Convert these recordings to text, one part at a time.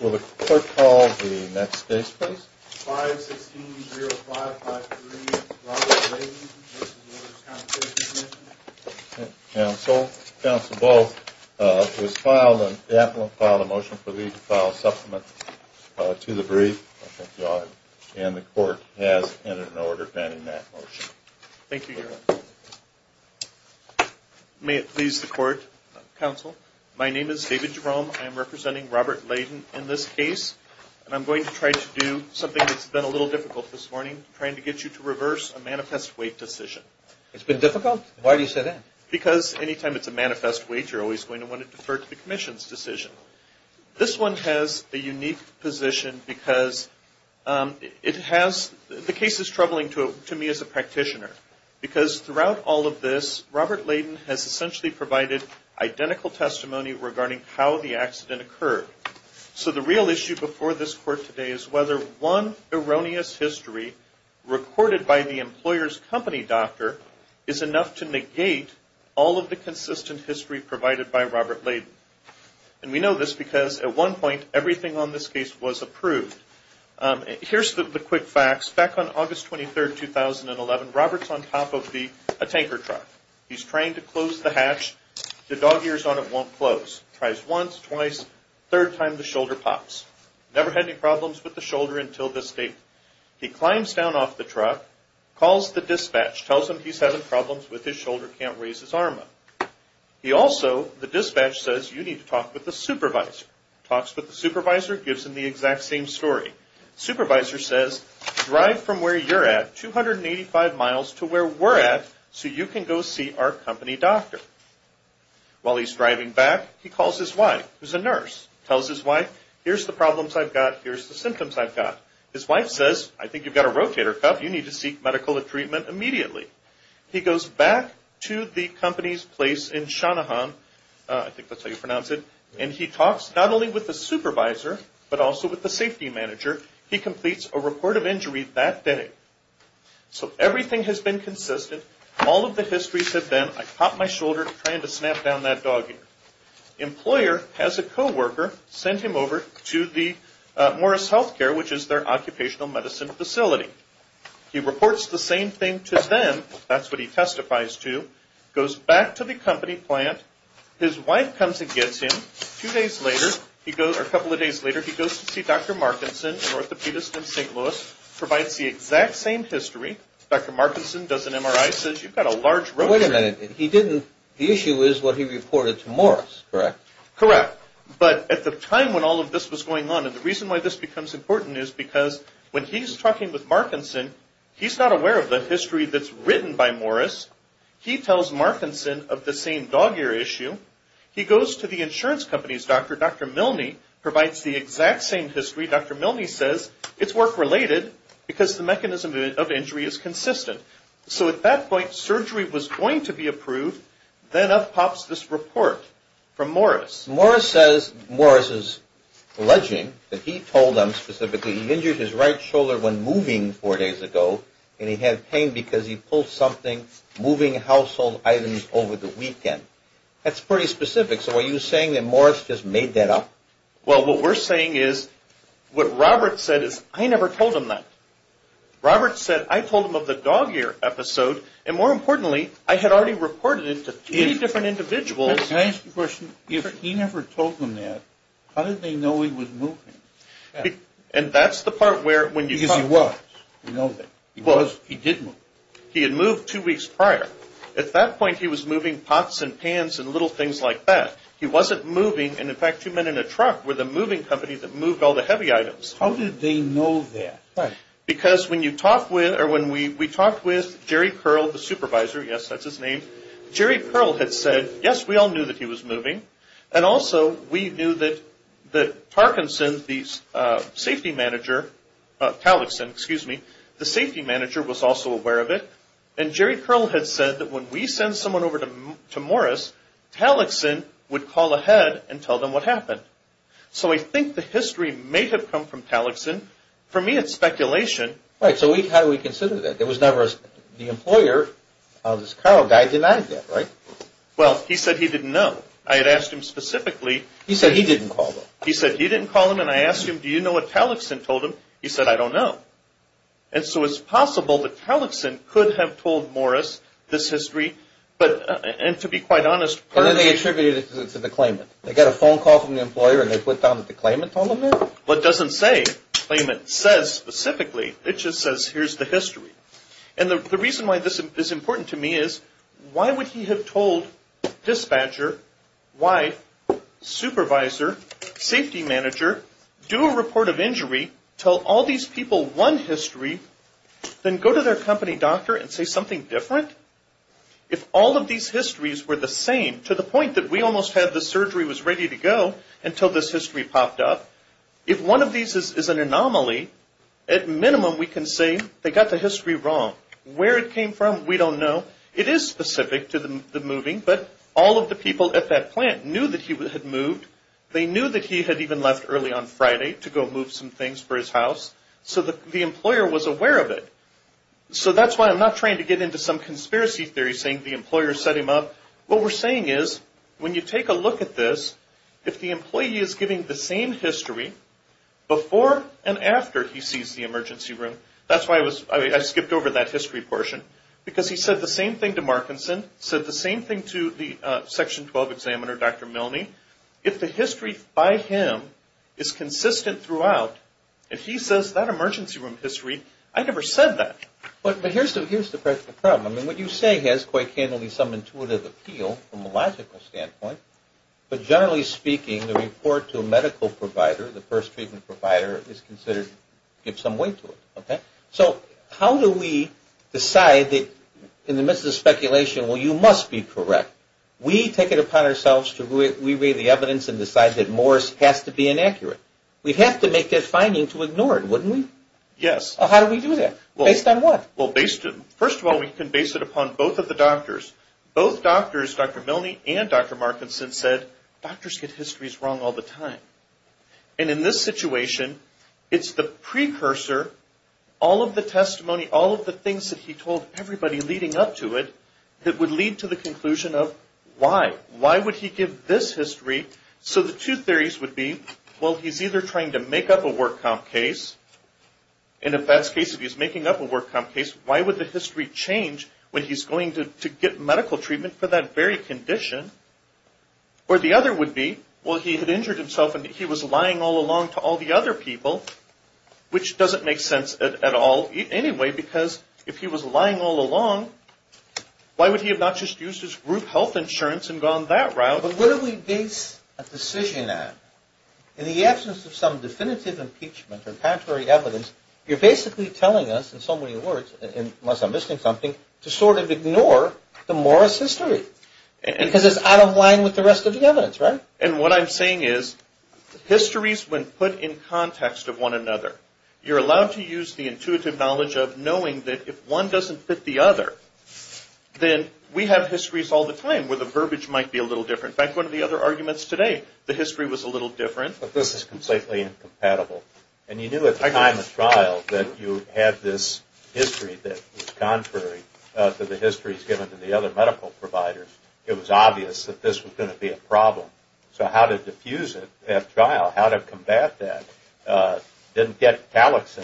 Will the court call the next case, please? 5-16-05-53, Robert Layden v. Workers' Compensation Commission. Counsel, counsel both, it was filed, the admiral filed a motion for you to file a supplement to the brief. And the court has entered an order banning that motion. Thank you, Your Honor. May it please the court, counsel. My name is David Jerome. I am representing Robert Layden in this case. And I'm going to try to do something that's been a little difficult this morning, trying to get you to reverse a manifest wait decision. It's been difficult? Why do you say that? Because any time it's a manifest wait, you're always going to want to defer to the commission's decision. This one has a unique position because it has, the case is troubling to me as a practitioner. Because throughout all of this, Robert Layden has essentially provided identical testimony regarding how the accident occurred. So the real issue before this court today is whether one erroneous history recorded by the employer's company doctor is enough to negate all of the consistent history provided by Robert Layden. And we know this because at one point, everything on this case was approved. Here's the quick facts. Back on August 23, 2011, Robert's on top of a tanker truck. He's trying to close the hatch. The dog ears on it won't close. He tries once, twice, third time, the shoulder pops. Never had any problems with the shoulder until this date. He climbs down off the truck, calls the dispatch, tells them he's having problems with his shoulder, can't raise his arm up. He also, the dispatch says, you need to talk with the supervisor. Talks with the supervisor, gives him the exact same story. Supervisor says, drive from where you're at, 285 miles to where we're at, so you can go see our company doctor. While he's driving back, he calls his wife, who's a nurse. Tells his wife, here's the problems I've got, here's the symptoms I've got. His wife says, I think you've got a rotator cuff, you need to seek medical treatment immediately. He goes back to the company's place in Shanahan, I think that's how you pronounce it, and he talks not only with the supervisor, but also with the safety manager. He completes a report of injury that day. So everything has been consistent, all of the histories have been, I popped my shoulder trying to snap down that dog ear. Employer has a co-worker send him over to the Morris Healthcare, which is their occupational medicine facility. He reports the same thing to them, that's what he testifies to. Goes back to the company plant, his wife comes and gets him. A couple of days later, he goes to see Dr. Markinson, an orthopedist in St. Louis. Provides the exact same history. Dr. Markinson does an MRI, says you've got a large rotator cuff. Wait a minute, he didn't, the issue is what he reported to Morris, correct? Correct. But at the time when all of this was going on, and the reason why this becomes important is because when he's talking with Markinson, he's not aware of the history that's written by Morris. He tells Markinson of the same dog ear issue. He goes to the insurance company's doctor. Dr. Milne provides the exact same history. Dr. Milne says it's work related because the mechanism of injury is consistent. So at that point, surgery was going to be approved. Then up pops this report from Morris. Morris says, Morris is alleging that he told them specifically he injured his right shoulder when moving four days ago and he had pain because he pulled something moving household items over the weekend. That's pretty specific. So are you saying that Morris just made that up? Well, what we're saying is, what Robert said is, I never told him that. Robert said I told him of the dog ear episode, and more importantly, I had already reported it to three different individuals. Can I ask you a question? If he never told them that, how did they know he was moving? Because he was. He did move. He had moved two weeks prior. At that point, he was moving pots and pans and little things like that. He wasn't moving, and in fact, two men in a truck were the moving company that moved all the heavy items. How did they know that? Because when we talked with Jerry Pearl, the supervisor, yes, that's his name, Jerry Pearl had said, yes, we all knew that he was moving, and also we knew that Parkinson, the safety manager, Talixin, excuse me, the safety manager was also aware of it, and Jerry Pearl had said that when we send someone over to Morris, Talixin would call ahead and tell them what happened. So I think the history may have come from Talixin. For me, it's speculation. Right. So how do we consider that? There was never the employer of this Carl guy denied that, right? Well, he said he didn't know. I had asked him specifically. He said he didn't call though. He said he didn't call him, and I asked him, do you know what Talixin told him? He said, I don't know. And so it's possible that Talixin could have told Morris this history, and to be quite honest, And then they attributed it to the claimant. They got a phone call from the employer, and they put down that the claimant told them that? Well, it doesn't say, claimant says specifically. It just says, here's the history. And the reason why this is important to me is, why would he have told dispatcher, wife, supervisor, safety manager, do a report of injury, tell all these people one history, then go to their company doctor and say something different? If all of these histories were the same, to the point that we almost had the surgery was ready to go until this history popped up, if one of these is an anomaly, at minimum we can say they got the history wrong. Where it came from, we don't know. It is specific to the moving, but all of the people at that plant knew that he had moved. They knew that he had even left early on Friday to go move some things for his house, so the employer was aware of it. So that's why I'm not trying to get into some conspiracy theory saying the employer set him up. What we're saying is, when you take a look at this, if the employee is giving the same history before and after he sees the emergency room, that's why I skipped over that history portion, because he said the same thing to Markinson, said the same thing to the Section 12 examiner, Dr. Milne, if the history by him is consistent throughout, if he says that emergency room history, I never said that. But here's the problem. What you say has quite candidly some intuitive appeal from a logical standpoint, but generally speaking, the report to a medical provider, the first treatment provider, is considered to give some weight to it, okay? So how do we decide that in the midst of speculation, well, you must be correct? We take it upon ourselves to re-read the evidence and decide that more has to be inaccurate. We'd have to make a finding to ignore it, wouldn't we? Yes. How do we do that? Based on what? Both doctors, Dr. Milne and Dr. Markinson, said doctors get histories wrong all the time. And in this situation, it's the precursor, all of the testimony, all of the things that he told everybody leading up to it, that would lead to the conclusion of why. Why would he give this history? So the two theories would be, well, he's either trying to make up a work comp case, and if that's the case, if he's making up a work comp case, why would the history change when he's going to get medical treatment for that very condition? Or the other would be, well, he had injured himself and he was lying all along to all the other people, which doesn't make sense at all anyway, because if he was lying all along, why would he have not just used his group health insurance and gone that route? But where do we base a decision at? In the absence of some definitive impeachment or contrary evidence, you're basically telling us, in so many words, unless I'm missing something, to sort of ignore the Morris history, because it's out of line with the rest of the evidence, right? And what I'm saying is histories, when put in context of one another, you're allowed to use the intuitive knowledge of knowing that if one doesn't fit the other, then we have histories all the time where the verbiage might be a little different. In fact, one of the other arguments today, the history was a little different. But this is completely incompatible. And you knew at the time of trial that you had this history that was contrary to the histories given to the other medical providers. It was obvious that this was going to be a problem. So how to diffuse it at trial, how to combat that, didn't get Talix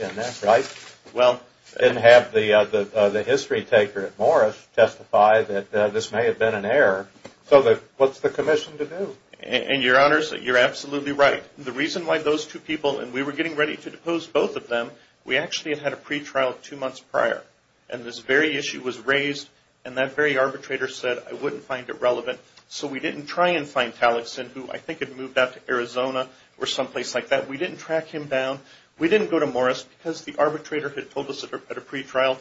in that, right? Didn't have the history taker at Morris testify that this may have been an error. So what's the commission to do? And, Your Honors, you're absolutely right. The reason why those two people, and we were getting ready to depose both of them, we actually had a pretrial two months prior. And this very issue was raised, and that very arbitrator said, I wouldn't find it relevant. So we didn't try and find Talix in who I think had moved out to Arizona or someplace like that. We didn't track him down. We didn't go to Morris because the arbitrator had told us at a pretrial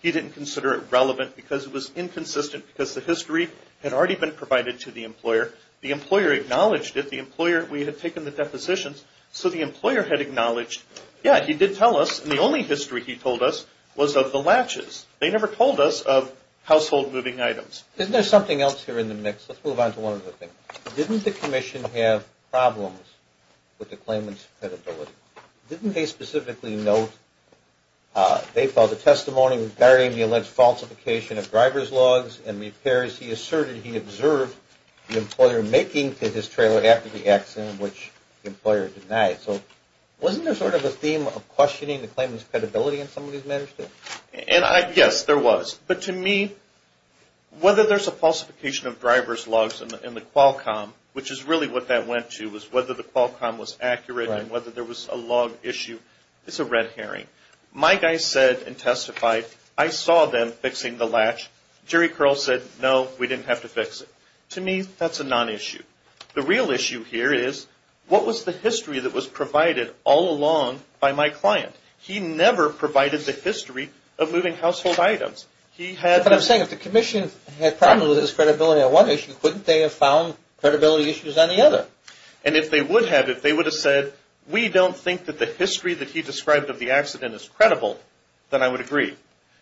he didn't consider it relevant because it was inconsistent because the history had already been provided to the employer. The employer acknowledged it. The employer, we had taken the depositions, so the employer had acknowledged, yeah, he did tell us, and the only history he told us was of the latches. They never told us of household moving items. Isn't there something else here in the mix? Let's move on to one other thing. Didn't the commission have problems with the claimant's credibility? Didn't they specifically note, they filed a testimony regarding the alleged falsification of driver's logs and repairs. He asserted he observed the employer making to his trailer after the accident, which the employer denied. So wasn't there sort of a theme of questioning the claimant's credibility in some of these matters too? Yes, there was. But to me, whether there's a falsification of driver's logs in the Qualcomm, which is really what that went to, was whether the Qualcomm was accurate and whether there was a log issue, it's a red herring. My guy said and testified, I saw them fixing the latch. Jerry Curl said, no, we didn't have to fix it. To me, that's a non-issue. The real issue here is, what was the history that was provided all along by my client? He never provided the history of moving household items. But I'm saying if the commission had problems with his credibility on one issue, couldn't they have found credibility issues on the other? And if they would have, if they would have said, we don't think that the history that he described of the accident is credible, then I would agree.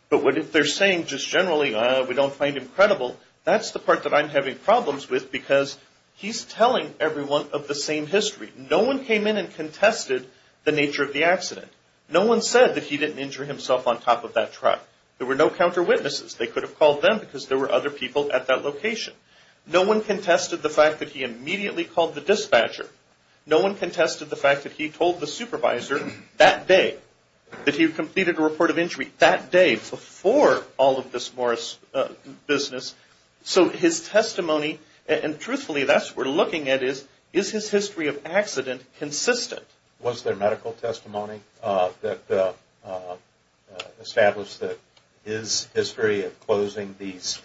But if they're saying just generally, we don't find him credible, that's the part that I'm having problems with because he's telling everyone of the same history. No one came in and contested the nature of the accident. No one said that he didn't injure himself on top of that truck. There were no counter-witnesses. They could have called them because there were other people at that location. No one contested the fact that he immediately called the dispatcher. No one contested the fact that he told the supervisor that day that he completed a report of injury, that day before all of this Morris business. So his testimony, and truthfully that's what we're looking at is, is his history of accident consistent? Was there medical testimony that established that his history of closing these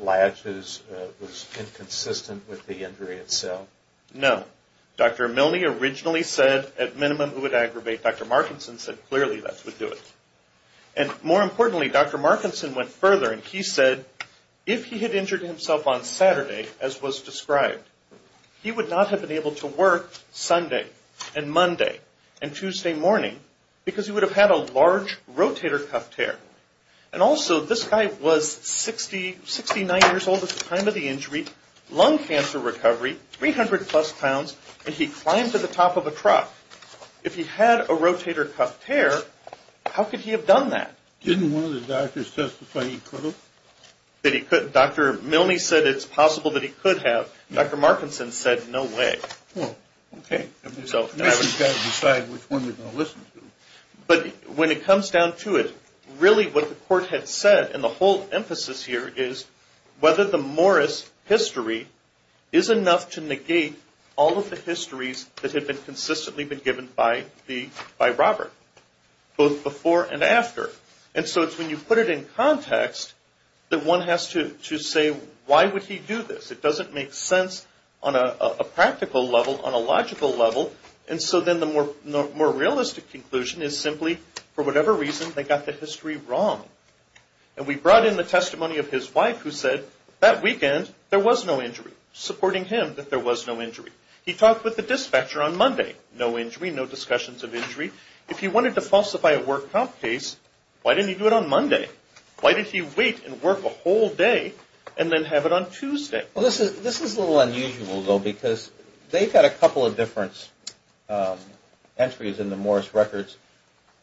latches was inconsistent with the injury itself? No. Dr. Milne originally said at minimum it would aggravate. Dr. Markinson said clearly that would do it. And more importantly, Dr. Markinson went further and he said if he had injured himself on Saturday, as was described, he would not have been able to work Sunday and Monday and Tuesday morning because he would have had a large rotator cuff tear. And also this guy was 69 years old at the time of the injury, lung cancer recovery, 300 plus pounds, and he climbed to the top of a truck. If he had a rotator cuff tear, how could he have done that? Didn't one of the doctors testify he could have? Dr. Milne said it's possible that he could have. Dr. Markinson said no way. Well, okay. We've got to decide which one we're going to listen to. But when it comes down to it, really what the court had said and the whole emphasis here is whether the Morris history is enough to negate all of the histories that had consistently been given by Robert, both before and after. And so it's when you put it in context that one has to say why would he do this? It doesn't make sense on a practical level, on a logical level. And so then the more realistic conclusion is simply for whatever reason they got the history wrong. And we brought in the testimony of his wife who said that weekend there was no injury, supporting him that there was no injury. He talked with the dispatcher on Monday. No injury, no discussions of injury. If he wanted to falsify a work comp case, why didn't he do it on Monday? Why did he wait and work a whole day and then have it on Tuesday? Well, this is a little unusual, though, because they've got a couple of different entries in the Morris records.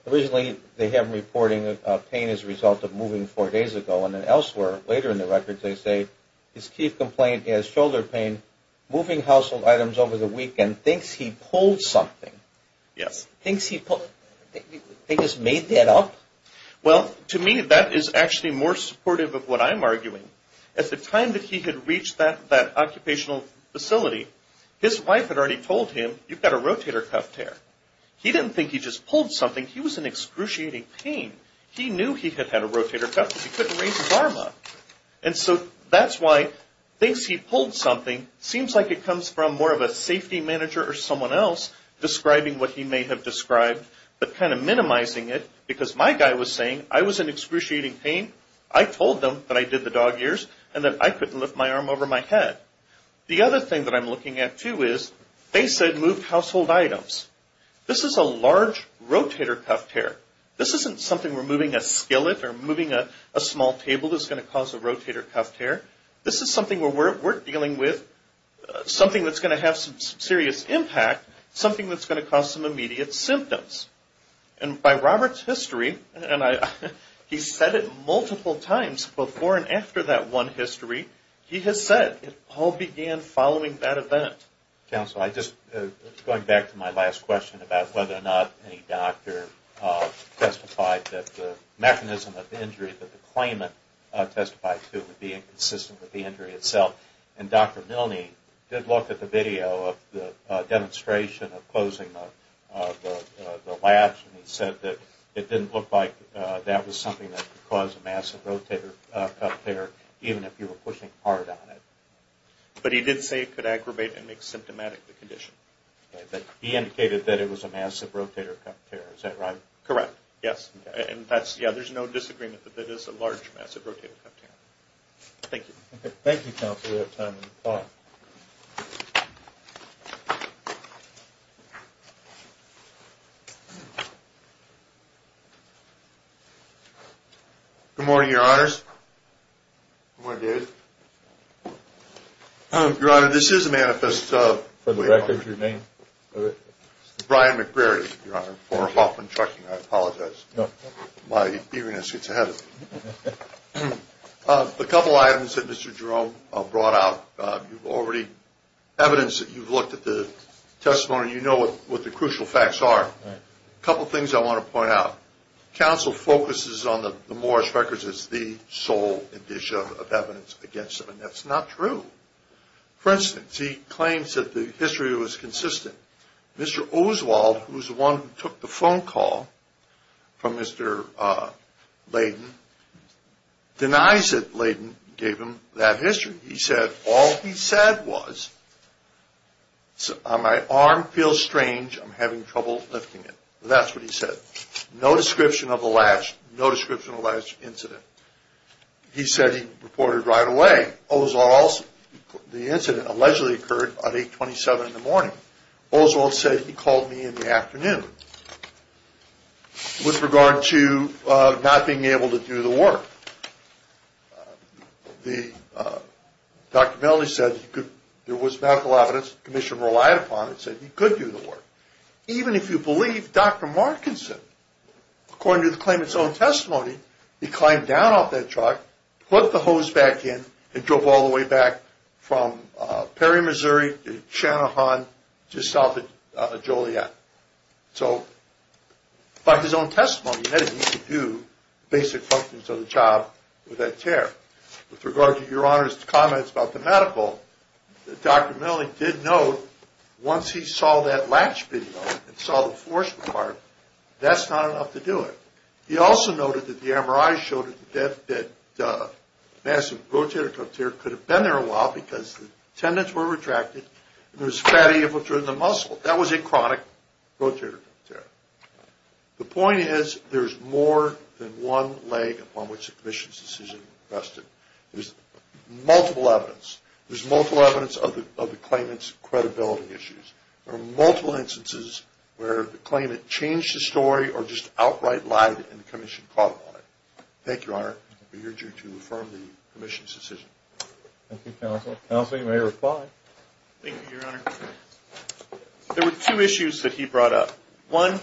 Originally, they have him reporting pain as a result of moving four days ago. And then elsewhere, later in the records, they say his key complaint is shoulder pain, moving household items over the weekend, thinks he pulled something. Yes. Thinks he just made that up? Well, to me, that is actually more supportive of what I'm arguing. At the time that he had reached that occupational facility, his wife had already told him, you've got a rotator cuff tear. He didn't think he just pulled something. He was in excruciating pain. He knew he had had a rotator cuff, but he couldn't raise his arm up. And so that's why thinks he pulled something seems like it comes from more of a safety manager or someone else describing what he may have described, but kind of minimizing it, because my guy was saying, I was in excruciating pain. I told them that I did the dog ears and that I couldn't lift my arm over my head. The other thing that I'm looking at, too, is they said move household items. This is a large rotator cuff tear. This isn't something where moving a skillet or moving a small table is going to cause a rotator cuff tear. This is something where we're dealing with something that's going to have some serious impact, something that's going to cause some immediate symptoms. And by Robert's history, and he's said it multiple times before and after that one history, he has said it all began following that event. Counsel, I'm just going back to my last question about whether or not any doctor testified that the mechanism of the injury that the claimant testified to would be inconsistent with the injury itself. And Dr. Milne did look at the video of the demonstration of closing the latch, and he said that it didn't look like that was something that could cause a massive rotator cuff tear, even if you were pushing hard on it. But he did say it could aggravate and make symptomatic the condition. He indicated that it was a massive rotator cuff tear, is that right? Correct, yes. And there's no disagreement that it is a large, massive rotator cuff tear. Thank you. Thank you, Counsel. We have time to talk. Good morning, Your Honors. Good morning, David. Your Honor, this is a manifest for the record. Your name? Brian McGrary, Your Honor, for Hoffman Trucking. I apologize. My feveriness gets ahead of me. A couple items that Mr. Jerome brought out. You've already, evidence that you've looked at the testimony, you know what the crucial facts are. A couple things I want to point out. Counsel focuses on the Morris records as the sole indicia of evidence against him, and that's not true. For instance, he claims that the history was consistent. Mr. Oswald, who's the one who took the phone call from Mr. Layden, denies that Layden gave him that history. He said all he said was, my arm feels strange, I'm having trouble lifting it. That's what he said. No description of the last, no description of the last incident. He said he reported right away. The incident allegedly occurred at 827 in the morning. Oswald said he called me in the afternoon. With regard to not being able to do the work, Dr. Melanie said there was medical evidence, the commission relied upon it, said he could do the work. Even if you believe Dr. Markinson, according to the claimant's own testimony, he climbed down off that truck, put the hose back in, and drove all the way back from Perry, Missouri to Shanahan just south of Joliet. So, by his own testimony, he knew he could do basic functions of the job with that chair. With regard to Your Honor's comments about the medical, Dr. Melanie did note, once he saw that latch video and saw the force part, that's not enough to do it. He also noted that the MRI showed that massive rotator cuff tear could have been there a while because the tendons were retracted and there was fatty infiltrate in the muscle. That was a chronic rotator cuff tear. The point is there's more than one leg upon which the commission's decision was rested. There's multiple evidence. There's multiple evidence of the claimant's credibility issues. There are multiple instances where the claimant changed the story or just outright lied and the commission caught on it. Thank you, Your Honor. We urge you to affirm the commission's decision. Thank you, Counsel. Counsel, you may reply. Thank you, Your Honor. There were two issues that he brought up. One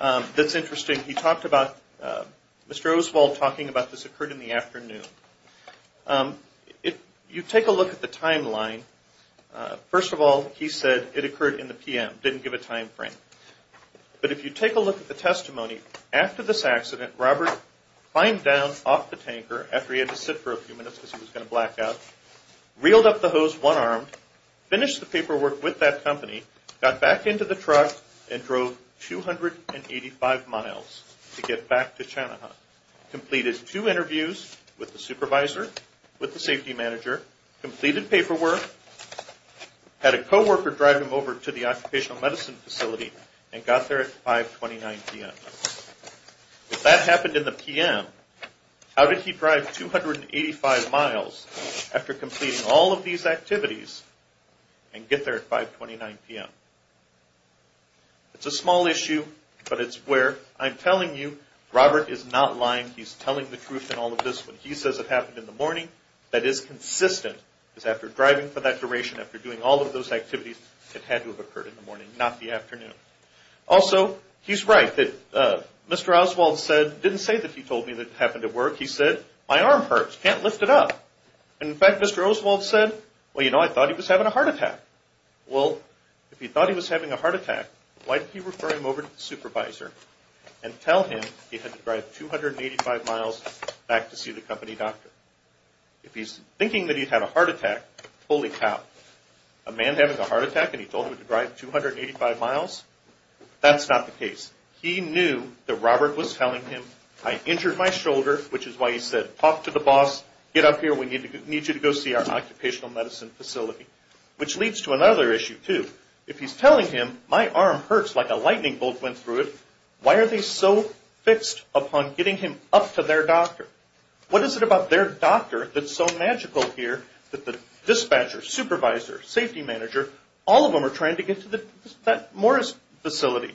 that's interesting, he talked about Mr. Oswald talking about this occurred in the afternoon. If you take a look at the timeline, first of all, he said it occurred in the p.m., didn't give a time frame. But if you take a look at the testimony, after this accident, Robert climbed down off the tanker after he had to sit for a few minutes because he was going to black out, reeled up the hose one arm, finished the paperwork with that company, got back into the truck and drove 285 miles to get back to Chanahut, completed two interviews with the supervisor, with the safety manager, completed paperwork, had a co-worker drive him over to the occupational medicine facility and got there at 529 p.m. If that happened in the p.m., how did he drive 285 miles after completing all of these activities and get there at 529 p.m.? It's a small issue, but it's where I'm telling you Robert is not lying. He's telling the truth in all of this. When he says it happened in the morning, that is consistent, because after driving for that duration, after doing all of those activities, it had to have occurred in the morning, not the afternoon. Also, he's right that Mr. Oswald didn't say that he told me that it happened at work. He said, my arm hurts, can't lift it up. In fact, Mr. Oswald said, well, you know, I thought he was having a heart attack. Well, if he thought he was having a heart attack, why didn't he refer him over to the supervisor and tell him he had to drive 285 miles back to see the company doctor? If he's thinking that he had a heart attack, holy cow, a man having a heart attack and he told him to drive 285 miles? That's not the case. He knew that Robert was telling him, I injured my shoulder, which is why he said, talk to the boss, get up here, we need you to go see our occupational medicine facility, which leads to another issue, too. If he's telling him, my arm hurts like a lightning bolt went through it, why are they so fixed upon getting him up to their doctor? What is it about their doctor that's so magical here that the dispatcher, supervisor, safety manager, all of them are trying to get to that Morris facility?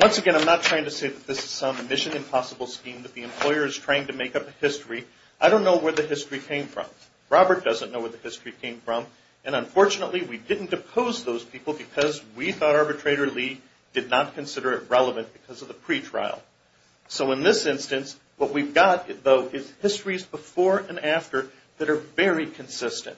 Once again, I'm not trying to say that this is some mission impossible scheme that the employer is trying to make up a history. I don't know where the history came from. Robert doesn't know where the history came from. Unfortunately, we didn't depose those people because we thought arbitrator Lee did not consider it relevant because of the pretrial. In this instance, what we've got, though, is histories before and after that are very consistent.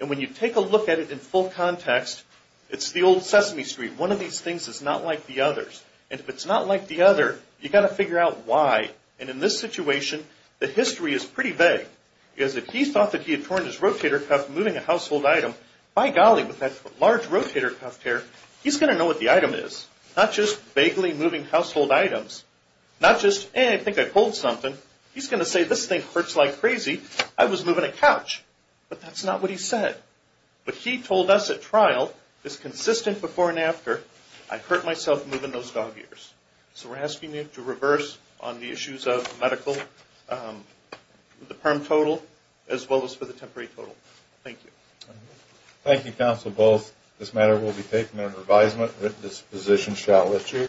When you take a look at it in full context, it's the old Sesame Street. One of these things is not like the others. If it's not like the other, you've got to figure out why. In this situation, the history is pretty vague. Because if he thought that he had torn his rotator cuff moving a household item, by golly, with that large rotator cuff tear, he's going to know what the item is. Not just vaguely moving household items. Not just, eh, I think I pulled something. He's going to say, this thing hurts like crazy. I was moving a couch. But that's not what he said. But he told us at trial, this consistent before and after, I hurt myself moving those dog ears. So we're asking you to reverse on the issues of medical, the perm total, as well as for the temporary total. Thank you. Thank you, Counsel Bowles. This matter will be taken under advisement. This position shall lift here.